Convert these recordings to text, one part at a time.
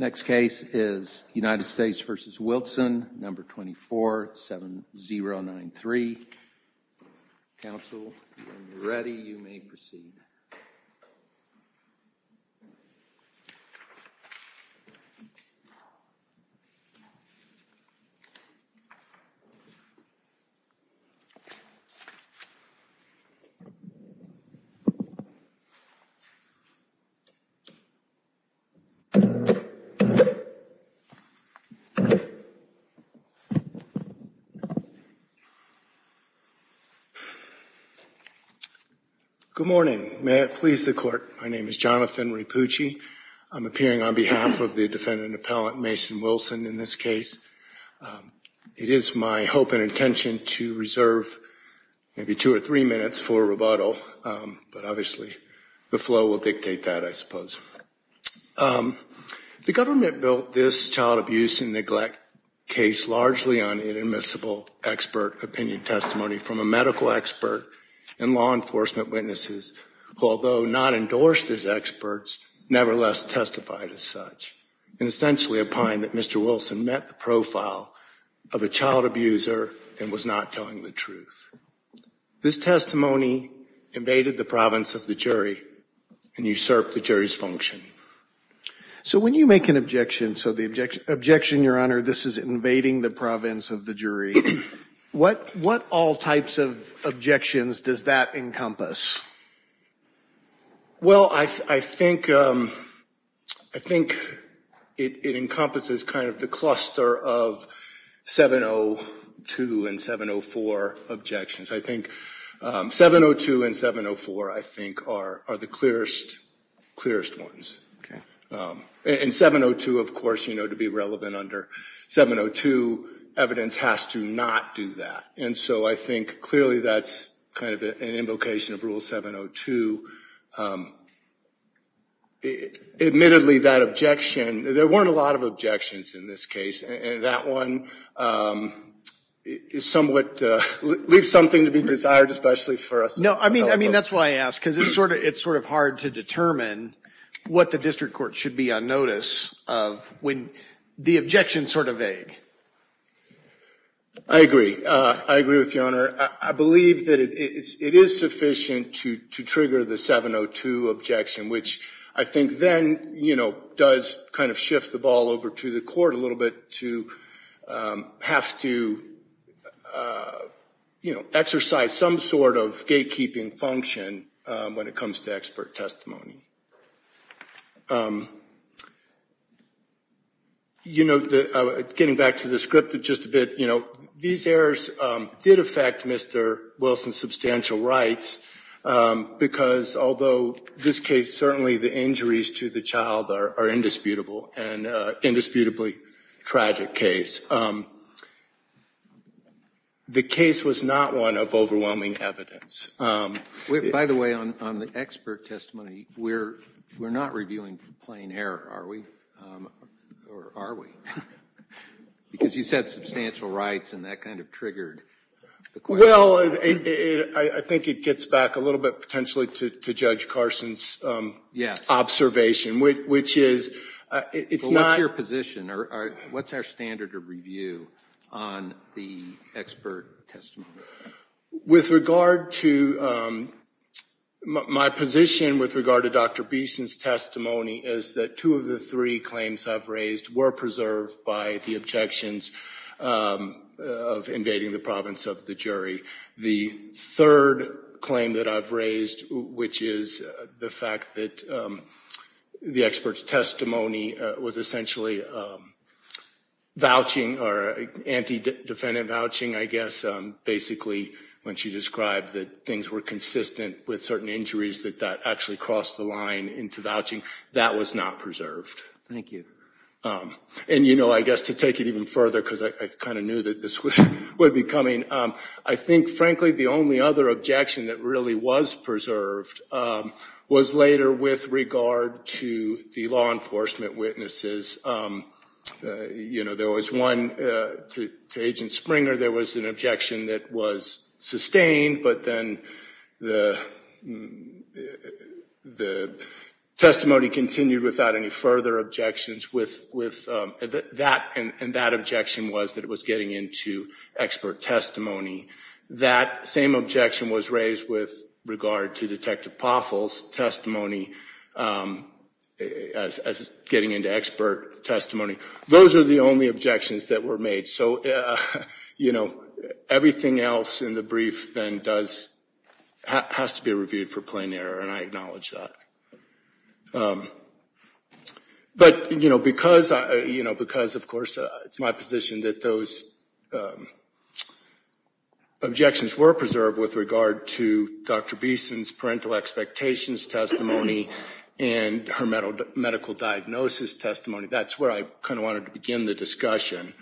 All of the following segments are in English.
Next case is United States v. Wilson, No. 247093. Counsel, when you're ready, you may proceed. Good morning. May it please the court. My name is Jonathan Rapucci. I'm appearing on behalf of the defendant appellant Mason Wilson in this case. It is my hope and intention to reserve maybe two or three minutes for rubato. But obviously, the flow will dictate that, I suppose. The government built this child abuse and neglect case largely on inadmissible expert opinion testimony from a medical expert and law enforcement witnesses, although not endorsed as experts, nevertheless testified as such, and essentially opined that Mr. Wilson met the profile of a child abuser and was not telling the truth. This testimony invaded the province of the jury and usurped the jury's function. So when you make an objection, so the objection, Your Honor, this is invading the province of the jury, what all types of objections does that encompass? Well, I think I think it encompasses kind of the cluster of 702 and 704 objections. I think 702 and 704, I think, are the clearest, clearest ones. And 702, of course, you know, to be relevant under 702 evidence has to not do that. And so I think clearly that's kind of an invocation of rule 702. Admittedly, that objection, there weren't a lot of objections in this case, and that one is somewhat leave something to be desired, especially for us. No, I mean, I mean, that's why I ask, because it's sort of it's sort of hard to determine what the district court should be on notice of when the objection sort of vague. I agree. I agree with Your Honor. I believe that it is sufficient to trigger the 702 objection, which I think then, you know, does kind of shift the ball over to the court a little bit to have to, you know, exercise some sort of gatekeeping function when it comes to expert testimony. You know, getting back to the script just a bit, you know, these errors did affect Mr. Wilson's substantial rights, because although this case certainly the injuries to the child are indisputable and indisputably tragic case, the case was not one of overwhelming evidence. By the way, on the expert testimony, we're not reviewing for plain error, are we? Or are we? Because you said substantial rights, and that kind of triggered the question. Well, I think it gets back a little bit potentially to Judge Carson's observation, which is it's not. What's your position? What's our standard of review on the expert testimony? With regard to my position with regard to Dr. Beeson's testimony is that two of the three claims I've raised were preserved by the objections of invading the province of the jury. The third claim that I've raised, which is the fact that the expert's testimony was essentially vouching or anti-defendant vouching, I guess, basically when she described that things were consistent with certain injuries that that actually crossed the line into vouching. That was not preserved. Thank you. And, you know, I guess to take it even further, because I kind of knew that this would be coming. I think, frankly, the only other objection that really was preserved was later with regard to the law enforcement witnesses. You know, there was one to Agent Springer. There was an objection that was sustained, but then the testimony continued without any further objections with that. And that objection was that it was getting into expert testimony. That same objection was raised with regard to Detective Poffel's testimony as getting into expert testimony. Those are the only objections that were made. So, you know, everything else in the brief then does has to be reviewed for plain error, and I acknowledge that. But, you know, because, of course, it's my position that those objections were preserved with regard to Dr. Beeson's parental expectations testimony and her medical diagnosis testimony. That's where I kind of wanted to begin the discussion.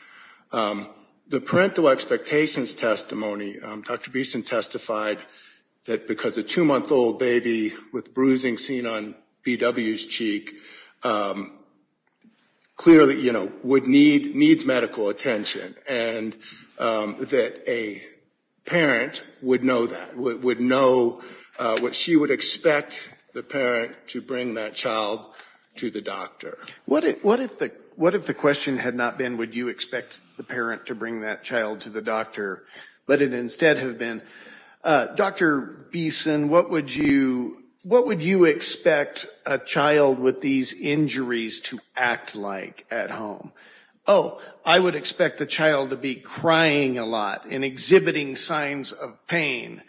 The parental expectations testimony, Dr. Beeson testified that because a two-month-old baby with bruising seen on B.W.'s cheek clearly, you know, would need medical attention. And that a parent would know that, would know what she would expect the parent to bring that child to the doctor. What if the question had not been, would you expect the parent to bring that child to the doctor, but it instead have been, Dr. Beeson, what would you expect a child with these injuries to act like at home? Oh, I would expect the child to be crying a lot and exhibiting signs of pain.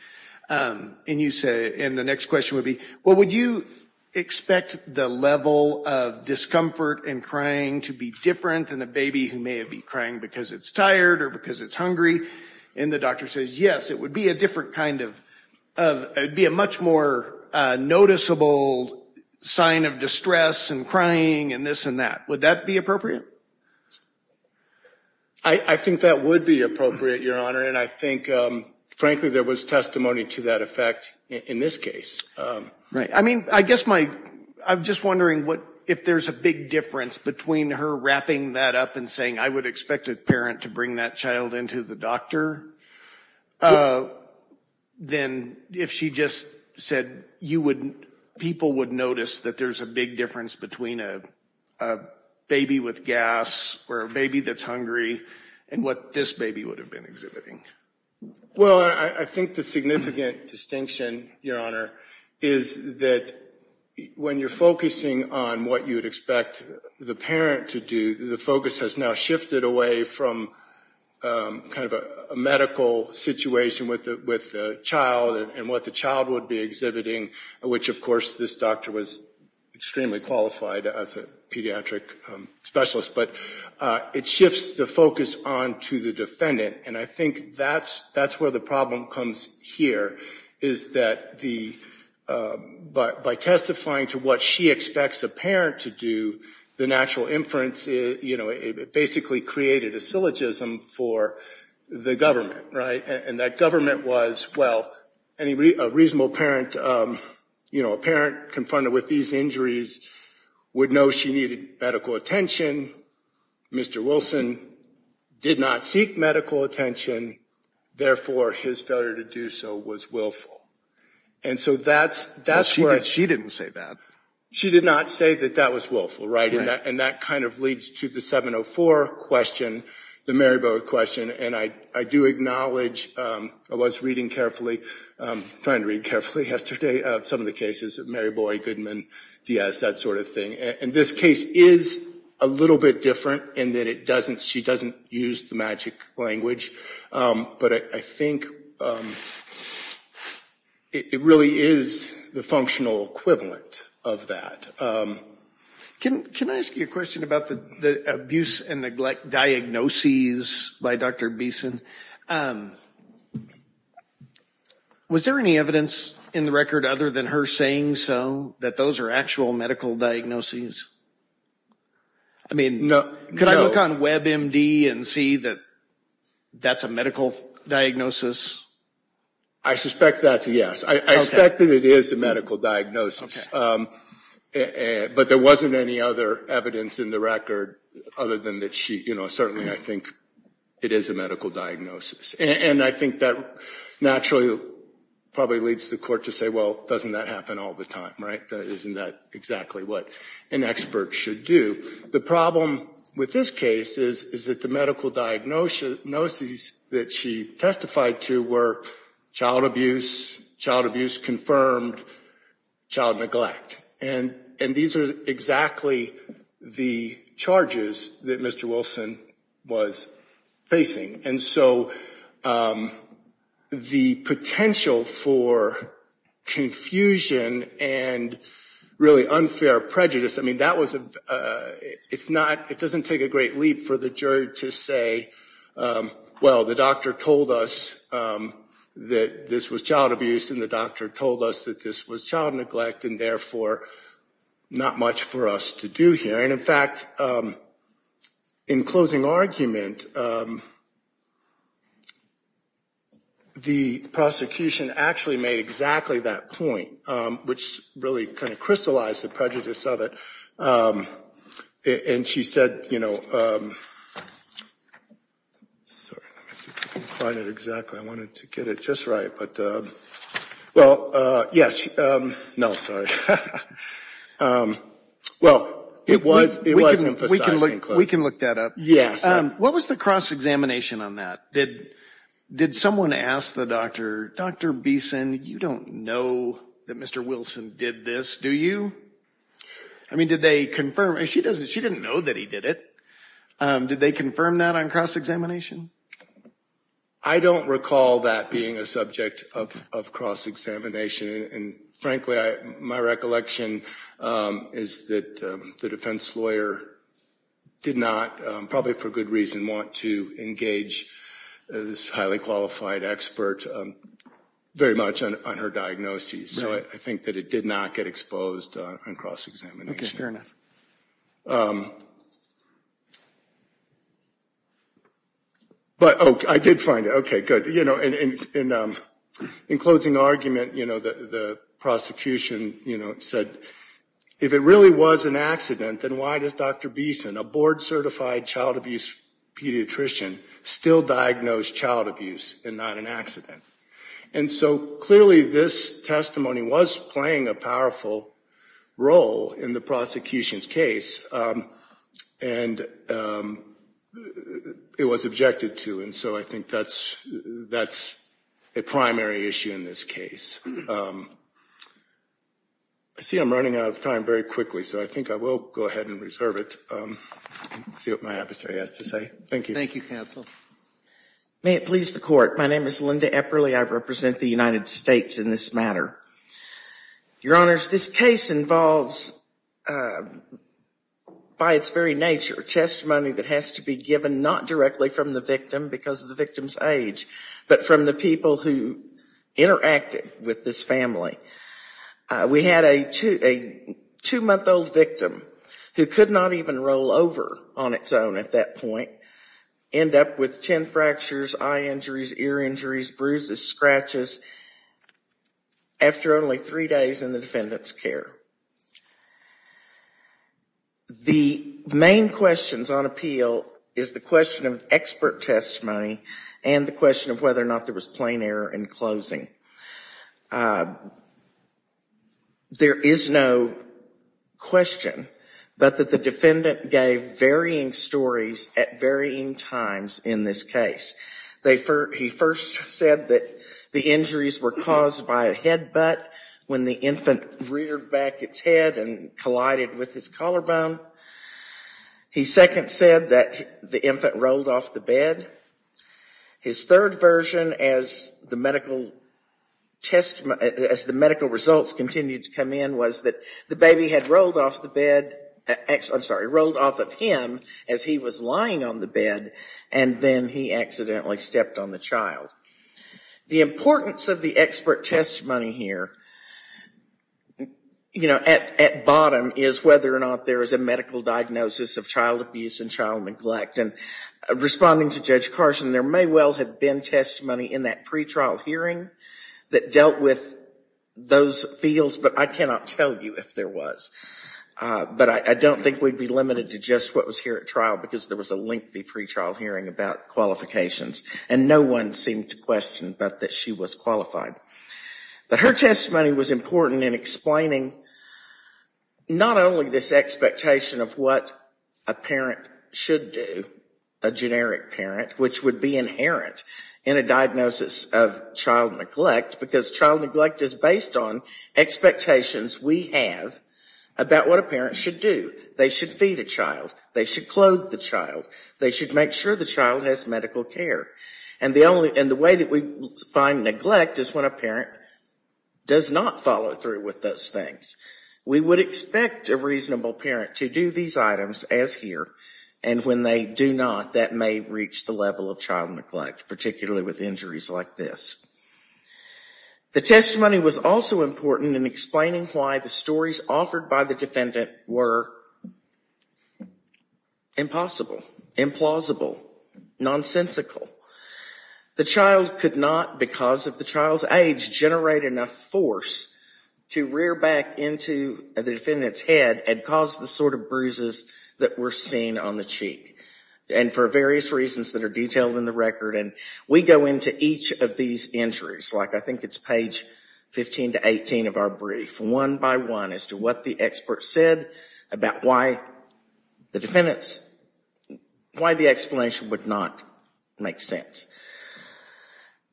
And you say, and the next question would be, well, would you expect the level of discomfort and crying to be different than a baby who may be crying because it's tired or because it's hungry? And the doctor says, yes, it would be a different kind of, it would be a much more noticeable sign of distress and crying and this and that. Would that be appropriate? I think that would be appropriate, Your Honor. And I think, frankly, there was testimony to that effect in this case. Right. I mean, I guess my, I'm just wondering what, if there's a big difference between her wrapping that up and saying, I would expect a parent to bring that child into the doctor. Then if she just said you would, people would notice that there's a big difference between a baby with gas or a baby that's hungry and what this baby would have been exhibiting. Well, I think the significant distinction, Your Honor, is that when you're focusing on what you would expect the parent to do, the focus has now shifted away from kind of a medical situation with a child and what the child would be exhibiting, which, of course, this doctor was extremely qualified as a pediatric specialist. But it shifts the focus on to the defendant. And I think that's where the problem comes here, is that the, by testifying to what she expects a parent to do, the natural inference, you know, it basically created a syllogism for the government, right? And that government was, well, a reasonable parent, you know, a parent confronted with these injuries would know she needed medical attention. Mr. Wilson did not seek medical attention. Therefore, his failure to do so was willful. And so that's where... But she didn't say that. She did not say that that was willful, right? Right. And that kind of leads to the 704 question, the Mary Boa question. And I do acknowledge, I was reading carefully, trying to read carefully yesterday, some of the cases, Mary Boa, Goodman, Diaz, that sort of thing. And this case is a little bit different in that it doesn't, she doesn't use the magic language. But I think it really is the functional equivalent of that. Can I ask you a question about the abuse and neglect diagnoses by Dr. Beeson? Was there any evidence in the record other than her saying so that those are actual medical diagnoses? I mean, could I look on WebMD and see that that's a medical diagnosis? I suspect that's a yes. I suspect that it is a medical diagnosis. But there wasn't any other evidence in the record other than that she, you know, certainly I think it is a medical diagnosis. And I think that naturally probably leads the court to say, well, doesn't that happen all the time, right? Isn't that exactly what an expert should do? The problem with this case is that the medical diagnoses that she testified to were child abuse, child abuse confirmed, child neglect. And these are exactly the charges that Mr. Wilson was facing. And so the potential for confusion and really unfair prejudice, I mean, that was a, it's not, it doesn't take a great leap for the jury to say, well, the doctor told us that this was child abuse and the doctor told us that this was child neglect and therefore not much for us to do here. And in fact, in closing argument, the prosecution actually made exactly that point, which really kind of crystallized the prejudice of it. And she said, you know, sorry, let me see if I can find it exactly. I wanted to get it just right. But, well, yes, no, sorry. Well, it was, it was emphasized in closing. We can look that up. Yes. What was the cross-examination on that? Did someone ask the doctor, Dr. Beeson, you don't know that Mr. Wilson did this, do you? I mean, did they confirm, she doesn't, she didn't know that he did it. Did they confirm that on cross-examination? I don't recall that being a subject of cross-examination. And, frankly, my recollection is that the defense lawyer did not, probably for good reason, want to engage this highly qualified expert very much on her diagnosis. So I think that it did not get exposed on cross-examination. But, oh, I did find it. Okay, good. In closing argument, the prosecution said, if it really was an accident, then why does Dr. Beeson, a board-certified child abuse pediatrician, still diagnose child abuse and not an accident? And so, clearly, this testimony was playing a powerful role in the prosecution's case, and it was objected to. And so I think that's a primary issue in this case. I see I'm running out of time very quickly, so I think I will go ahead and reserve it. See what my adversary has to say. Thank you. Thank you, counsel. May it please the Court. My name is Linda Epperle. I represent the United States in this matter. Your Honors, this case involves, by its very nature, testimony that has to be given not directly from the victim because of the victim's age, but from the people who interacted with this family. We had a two-month-old victim who could not even roll over on its own at that point, end up with 10 fractures, eye injuries, ear injuries, bruises, scratches, after only three days in the defendant's care. The main questions on appeal is the question of expert testimony and the question of whether or not there was plain error in closing. There is no question but that the defendant gave varying stories at varying times in this case. He first said that the injuries were caused by a headbutt when the infant reared back its head and collided with his collarbone. He second said that the infant rolled off the bed. His third version, as the medical results continued to come in, was that the baby had rolled off of him as he was lying on the bed, and then he accidentally stepped on the child. The importance of the expert testimony here at bottom is whether or not there is a medical diagnosis of child abuse and child neglect. Responding to Judge Carson, there may well have been testimony in that pretrial hearing that dealt with those fields, but I cannot tell you if there was. But I don't think we'd be limited to just what was here at trial because there was a lengthy pretrial hearing about qualifications, and no one seemed to question but that she was qualified. But her testimony was important in explaining not only this expectation of what a parent should do, a generic parent, which would be inherent in a diagnosis of child neglect because child neglect is based on expectations we have about what a parent should do. They should feed a child. They should clothe the child. They should make sure the child has medical care. And the way that we find neglect is when a parent does not follow through with those things. We would expect a reasonable parent to do these items as here, and when they do not, that may reach the level of child neglect, particularly with injuries like this. The testimony was also important in explaining why the stories offered by the defendant were impossible, implausible, nonsensical. The child could not, because of the child's age, generate enough force to rear back into the defendant's head and cause the sort of bruises that were seen on the cheek, and for various reasons that are detailed in the record. And we go into each of these injuries, like I think it's page 15 to 18 of our brief, one by one as to what the expert said about why the explanation would not make sense.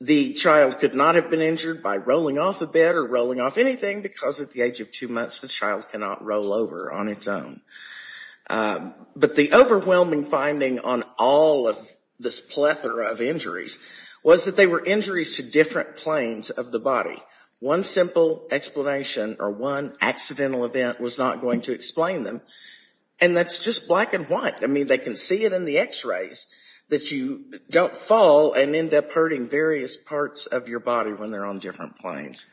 The child could not have been injured by rolling off a bed or rolling off anything because at the age of two months the child cannot roll over on its own. But the overwhelming finding on all of this plethora of injuries was that they were injuries to different planes of the body. One simple explanation or one accidental event was not going to explain them, and that's just black and white. I mean, they can see it in the x-rays that you don't fall and end up hurting various parts of your body when they're on different planes.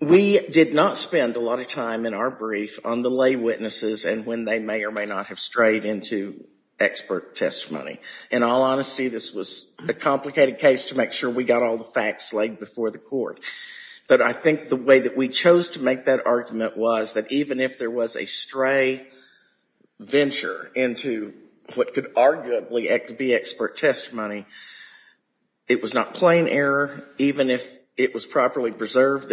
We did not spend a lot of time in our brief on the lay witnesses and when they may or may not have strayed into expert testimony. In all honesty, this was a complicated case to make sure we got all the facts laid before the court. But I think the way that we chose to make that argument was that even if there was a stray venture into what could arguably be expert testimony, it was not plain error. Even if it was properly preserved,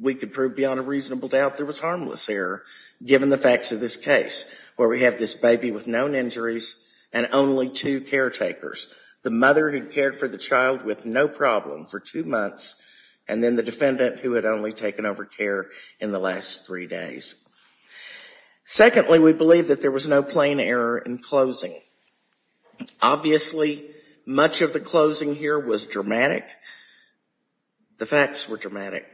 we could prove beyond a reasonable doubt there was harmless error given the facts of this case where we have this baby with known injuries and only two caretakers. The mother who cared for the child with no problem for two months and then the defendant who had only taken over care in the last three days. Secondly, we believe that there was no plain error in closing. Obviously, much of the closing here was dramatic. The facts were dramatic.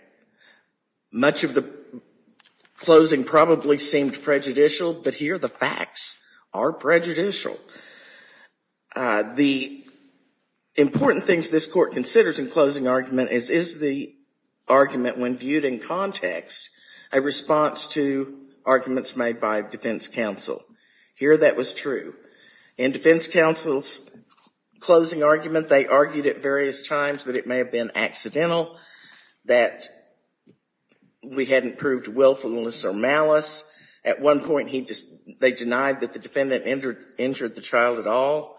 Much of the closing probably seemed prejudicial, but here the facts are prejudicial. The important things this court considers in closing argument is is the argument when viewed in context a response to arguments made by defense counsel? Here, that was true. In defense counsel's closing argument, they argued at various times that it may have been accidental, that we hadn't proved willfulness or malice. At one point, they denied that the defendant injured the child at all.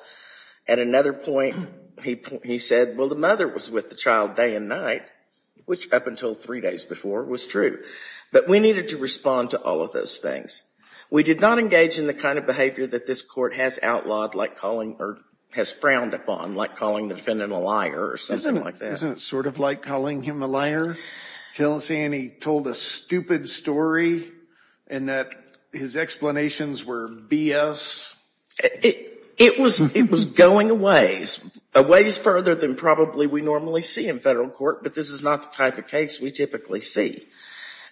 At another point, he said, well, the mother was with the child day and night, which up until three days before was true. But we needed to respond to all of those things. We did not engage in the kind of behavior that this court has outlawed, or has frowned upon, like calling the defendant a liar or something like that. Isn't it sort of like calling him a liar? Saying he told a stupid story and that his explanations were BS? It was going a ways, a ways further than probably we normally see in federal court, but this is not the type of case we typically see.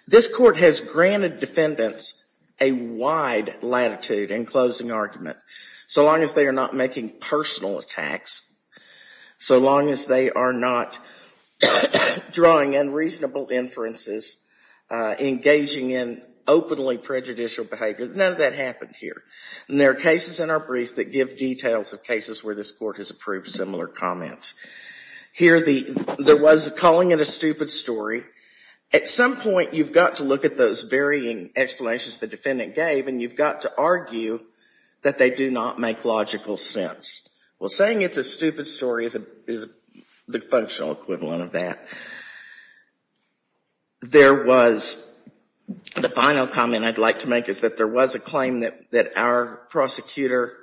This court has granted defendants a wide latitude in closing argument, so long as they are not making personal attacks, so long as they are not drawing unreasonable inferences, engaging in openly prejudicial behavior. None of that happened here. And there are cases in our brief that give details of cases where this court has approved similar comments. Here, there was calling it a stupid story. At some point, you've got to look at those varying explanations the defendant gave, and you've got to argue that they do not make logical sense. Well, saying it's a stupid story is the functional equivalent of that. There was, the final comment I'd like to make is that there was a claim that our prosecutor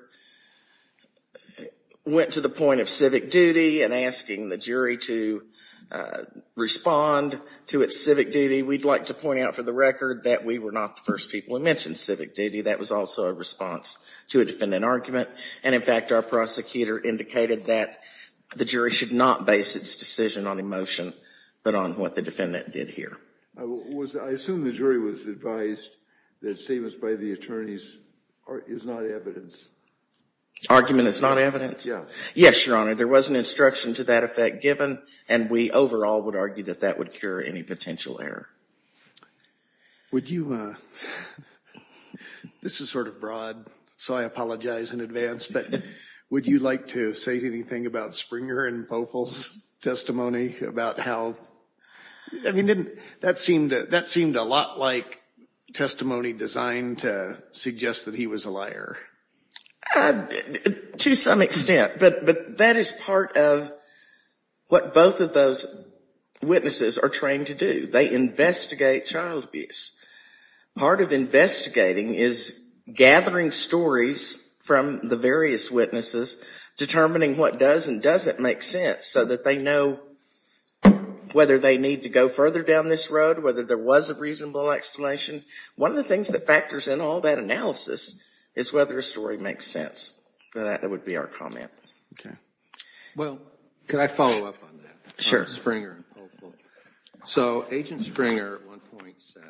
went to the point of civic duty and asking the jury to respond to its civic duty. We'd like to point out for the record that we were not the first people who mentioned civic duty. That was also a response to a defendant argument, and in fact our prosecutor indicated that the jury should not base its decision on emotion, but on what the defendant did here. I assume the jury was advised that statements by the attorneys is not evidence. Argument is not evidence? Yeah. Yes, Your Honor. There was an instruction to that effect given, and we overall would argue that that would cure any potential error. Would you, this is sort of broad, so I apologize in advance, but would you like to say anything about Springer and Pofl's testimony about how, I mean didn't, that seemed a lot like testimony designed to suggest that he was a liar? To some extent, but that is part of what both of those witnesses are trained to do. They investigate child abuse. Part of investigating is gathering stories from the various witnesses, determining what does and doesn't make sense, so that they know whether they need to go further down this road, whether there was a reasonable explanation. One of the things that factors in all that analysis is whether a story makes sense. That would be our comment. Well, could I follow up on that? Sure. On Springer and Pofl. So, Agent Springer at one point said,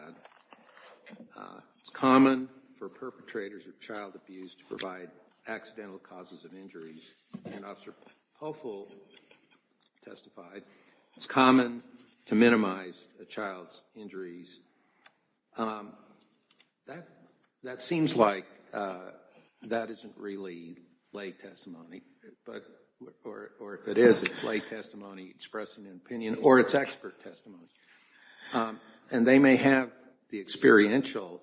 it's common for perpetrators of child abuse to provide accidental causes of injuries, and Officer Pofl testified, it's common to minimize a child's injuries. That seems like that isn't really lay testimony, or if it is, it's lay testimony expressing an opinion, or it's expert testimony, and they may have the experiential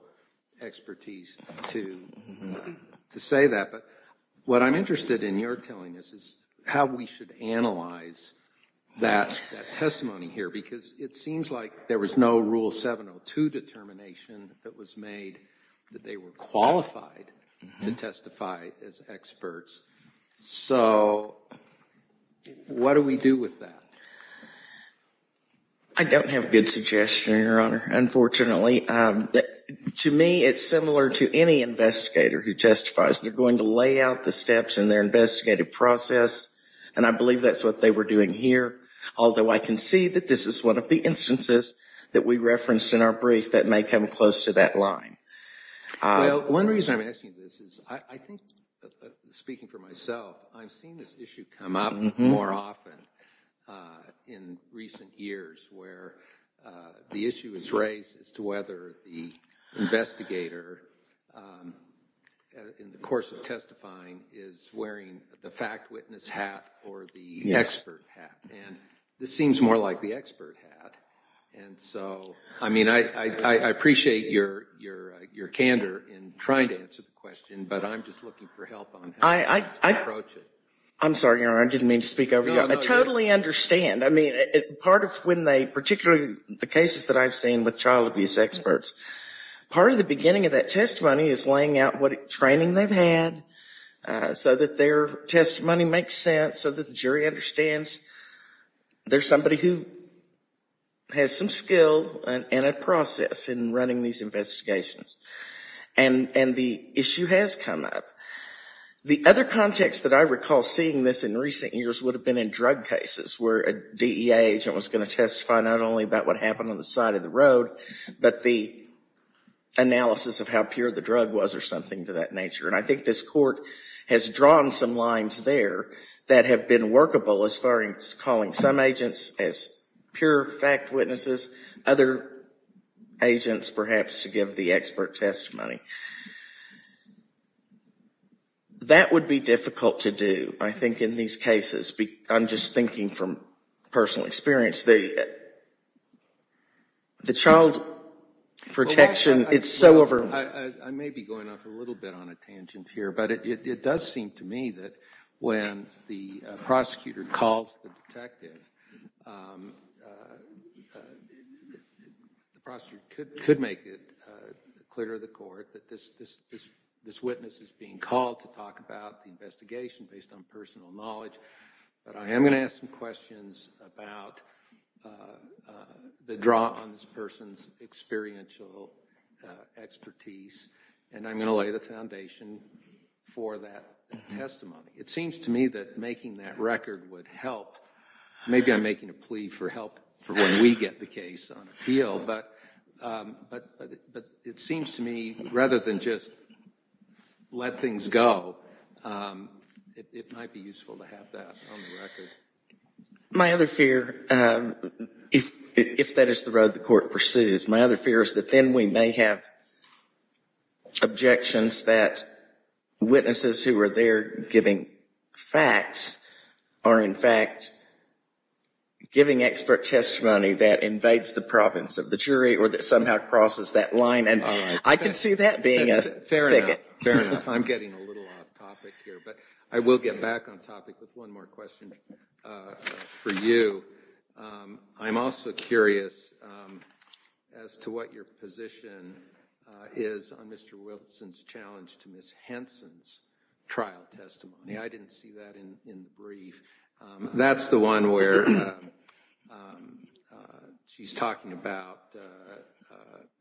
expertise to say that, but what I'm interested in your telling us is how we should analyze that testimony here, because it seems like there was no Rule 702 determination that was made that they were qualified to testify as experts. So, what do we do with that? I don't have a good suggestion, Your Honor, unfortunately. To me, it's similar to any investigator who testifies. They're going to lay out the steps in their investigative process, and I believe that's what they were doing here, although I can see that this is one of the instances that we referenced in our brief that may come close to that line. Well, one reason I'm asking this is I think, speaking for myself, I've seen this issue come up more often in recent years, where the issue is raised as to whether the investigator, in the course of testifying, is wearing the fact witness hat or the expert hat, and this seems more like the expert hat. And so, I mean, I appreciate your candor in trying to answer the question, but I'm just looking for help on how to approach it. I'm sorry, Your Honor, I didn't mean to speak over you. I totally understand. I mean, part of when they, particularly the cases that I've seen with child abuse experts, part of the beginning of that testimony is laying out what training they've had so that their testimony makes sense, so that the jury understands they're somebody who has some skill and a process in running these investigations. And the issue has come up. The other context that I recall seeing this in recent years would have been in drug cases where a DEA agent was going to testify not only about what happened on the side of the road, but the analysis of how pure the drug was or something to that nature. And I think this Court has drawn some lines there that have been workable as far as calling some agents as pure fact witnesses, other agents perhaps to give the expert testimony. That would be difficult to do, I think, in these cases. I'm just thinking from personal experience. The child protection, it's so overwhelming. I may be going off a little bit on a tangent here, but it does seem to me that when the prosecutor calls the detective, the prosecutor could make it clear to the Court that this witness is being called to talk about the investigation based on personal knowledge. But I am going to ask some questions about the draw on this person's experiential expertise, and I'm going to lay the foundation for that testimony. It seems to me that making that record would help. Maybe I'm making a plea for help for when we get the case on appeal, but it seems to me rather than just let things go, it might be useful to have that on the record. My other fear, if that is the road the Court pursues, my other fear is that then we may have objections that witnesses who are there giving facts are in fact giving expert testimony that invades the province of the jury or that somehow crosses that line. I can see that being a thicket. I'm getting a little off topic here, but I will get back on topic with one more question for you. I'm also curious as to what your position is on Mr. Wilson's challenge to Ms. Henson's trial testimony. I didn't see that in the brief. That's the one where she's talking about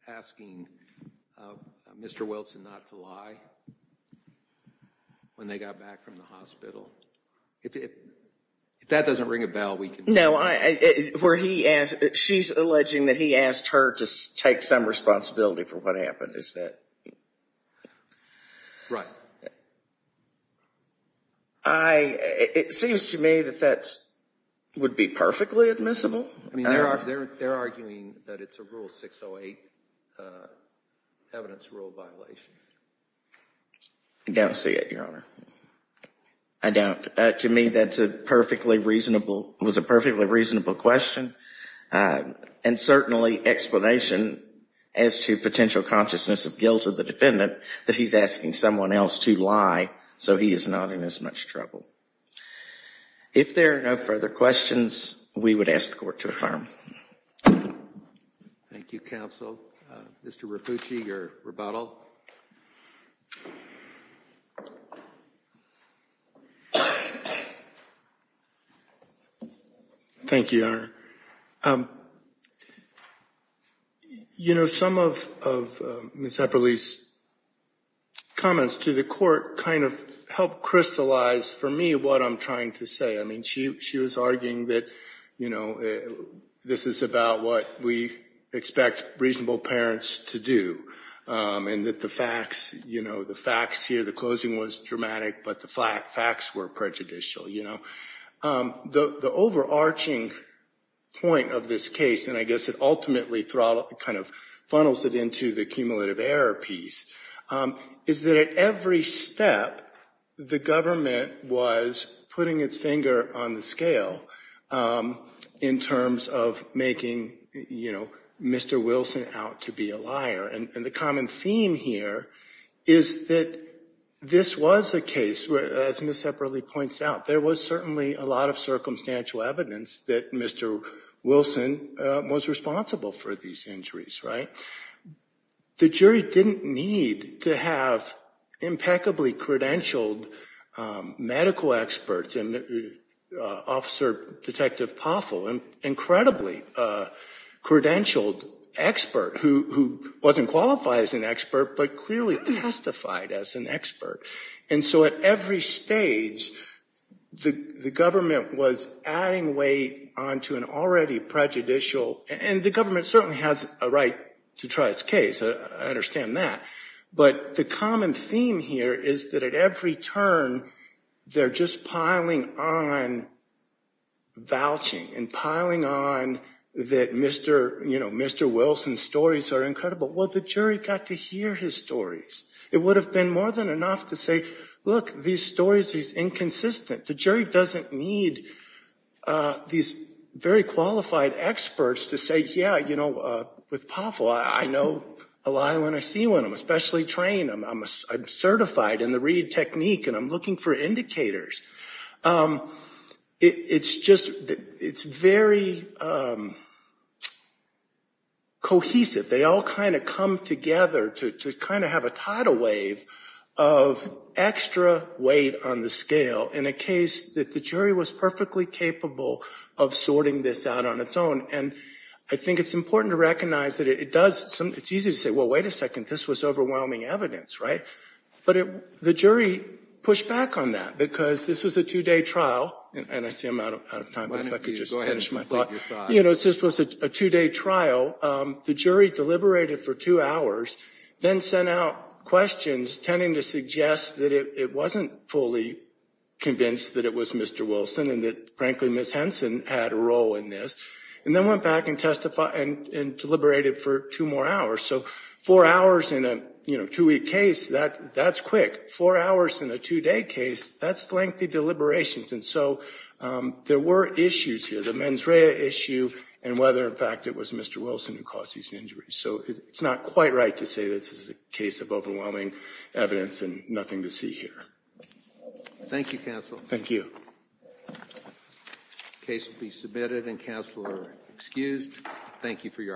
asking Mr. Wilson not to lie when they got back from the hospital. If that doesn't ring a bell, we can... No, she's alleging that he asked her to take some responsibility for what happened. Is that... It seems to me that that would be perfectly admissible. They're arguing that it's a Rule 608 evidence rule violation. I don't see it, Your Honor. I don't. To me, that was a perfectly reasonable question and certainly explanation as to potential consciousness of guilt of the defendant that he's asking someone else to lie so he is not in as much trouble. If there are no further questions, we would ask the court to affirm. Thank you, counsel. Mr. Rappucci, your rebuttal. Thank you, Your Honor. You know, some of Ms. Epperle's comments to the court kind of helped crystallize for me what I'm trying to say. I mean, she was arguing that, you know, this is about what we expect reasonable parents to do and that the facts, you know, the facts here, the closing was dramatic, but the facts were prejudicial, you know. The overarching point of this case, and I guess it ultimately kind of funnels it into the cumulative error piece, is that at every step, the government was putting its finger on the scale in terms of making, you know, Mr. Wilson out to be a liar and the common theme here is that this was a case, as Ms. Epperle points out, there was certainly a lot of circumstantial evidence that Mr. Wilson was responsible for these injuries, right? The jury didn't need to have impeccably credentialed medical experts and Officer Detective Poffel, an incredibly credentialed expert who wasn't qualified as an expert, but clearly testified as an expert. And so at every stage, the government was adding weight onto an already prejudicial, and the government certainly has a right to try its case, I understand that, but the common theme here is that at every turn, they're just piling on vouching and piling on that Mr. Wilson's stories are incredible. Well, the jury got to hear his stories. It would have been more than enough to say, look, these stories are inconsistent. The jury doesn't need these very qualified experts to say, yeah, you know, with Poffel, I know a lie when I see one, I'm especially trained, I'm certified in the read technique, and I'm looking for indicators. It's just, it's very cohesive. They all kind of come together to kind of have a tidal wave of extra weight on the scale in a case that the jury was perfectly capable of sorting this out on its own. And I think it's important to recognize that it does, it's easy to say, well, wait a second, this was overwhelming evidence, right? But the jury pushed back on that because this was a two-day trial, and I see I'm out of time, but if I could just finish my thought. You know, this was a two-day trial. The jury deliberated for two hours, then sent out questions tending to suggest that it wasn't fully convinced that it was Mr. Wilson and that, frankly, Ms. Henson had a role in this, and then went back and deliberated for two more hours. So four hours in a two-week case, that's quick. Four hours in a two-day case, that's lengthy deliberations. And so there were issues here, the mens rea issue, and whether, in fact, it was Mr. Wilson who caused these injuries. So it's not quite right to say this is a case of overwhelming evidence and nothing to see here. Thank you, counsel. Thank you. The case will be submitted, and counsel are excused. Thank you for your arguments.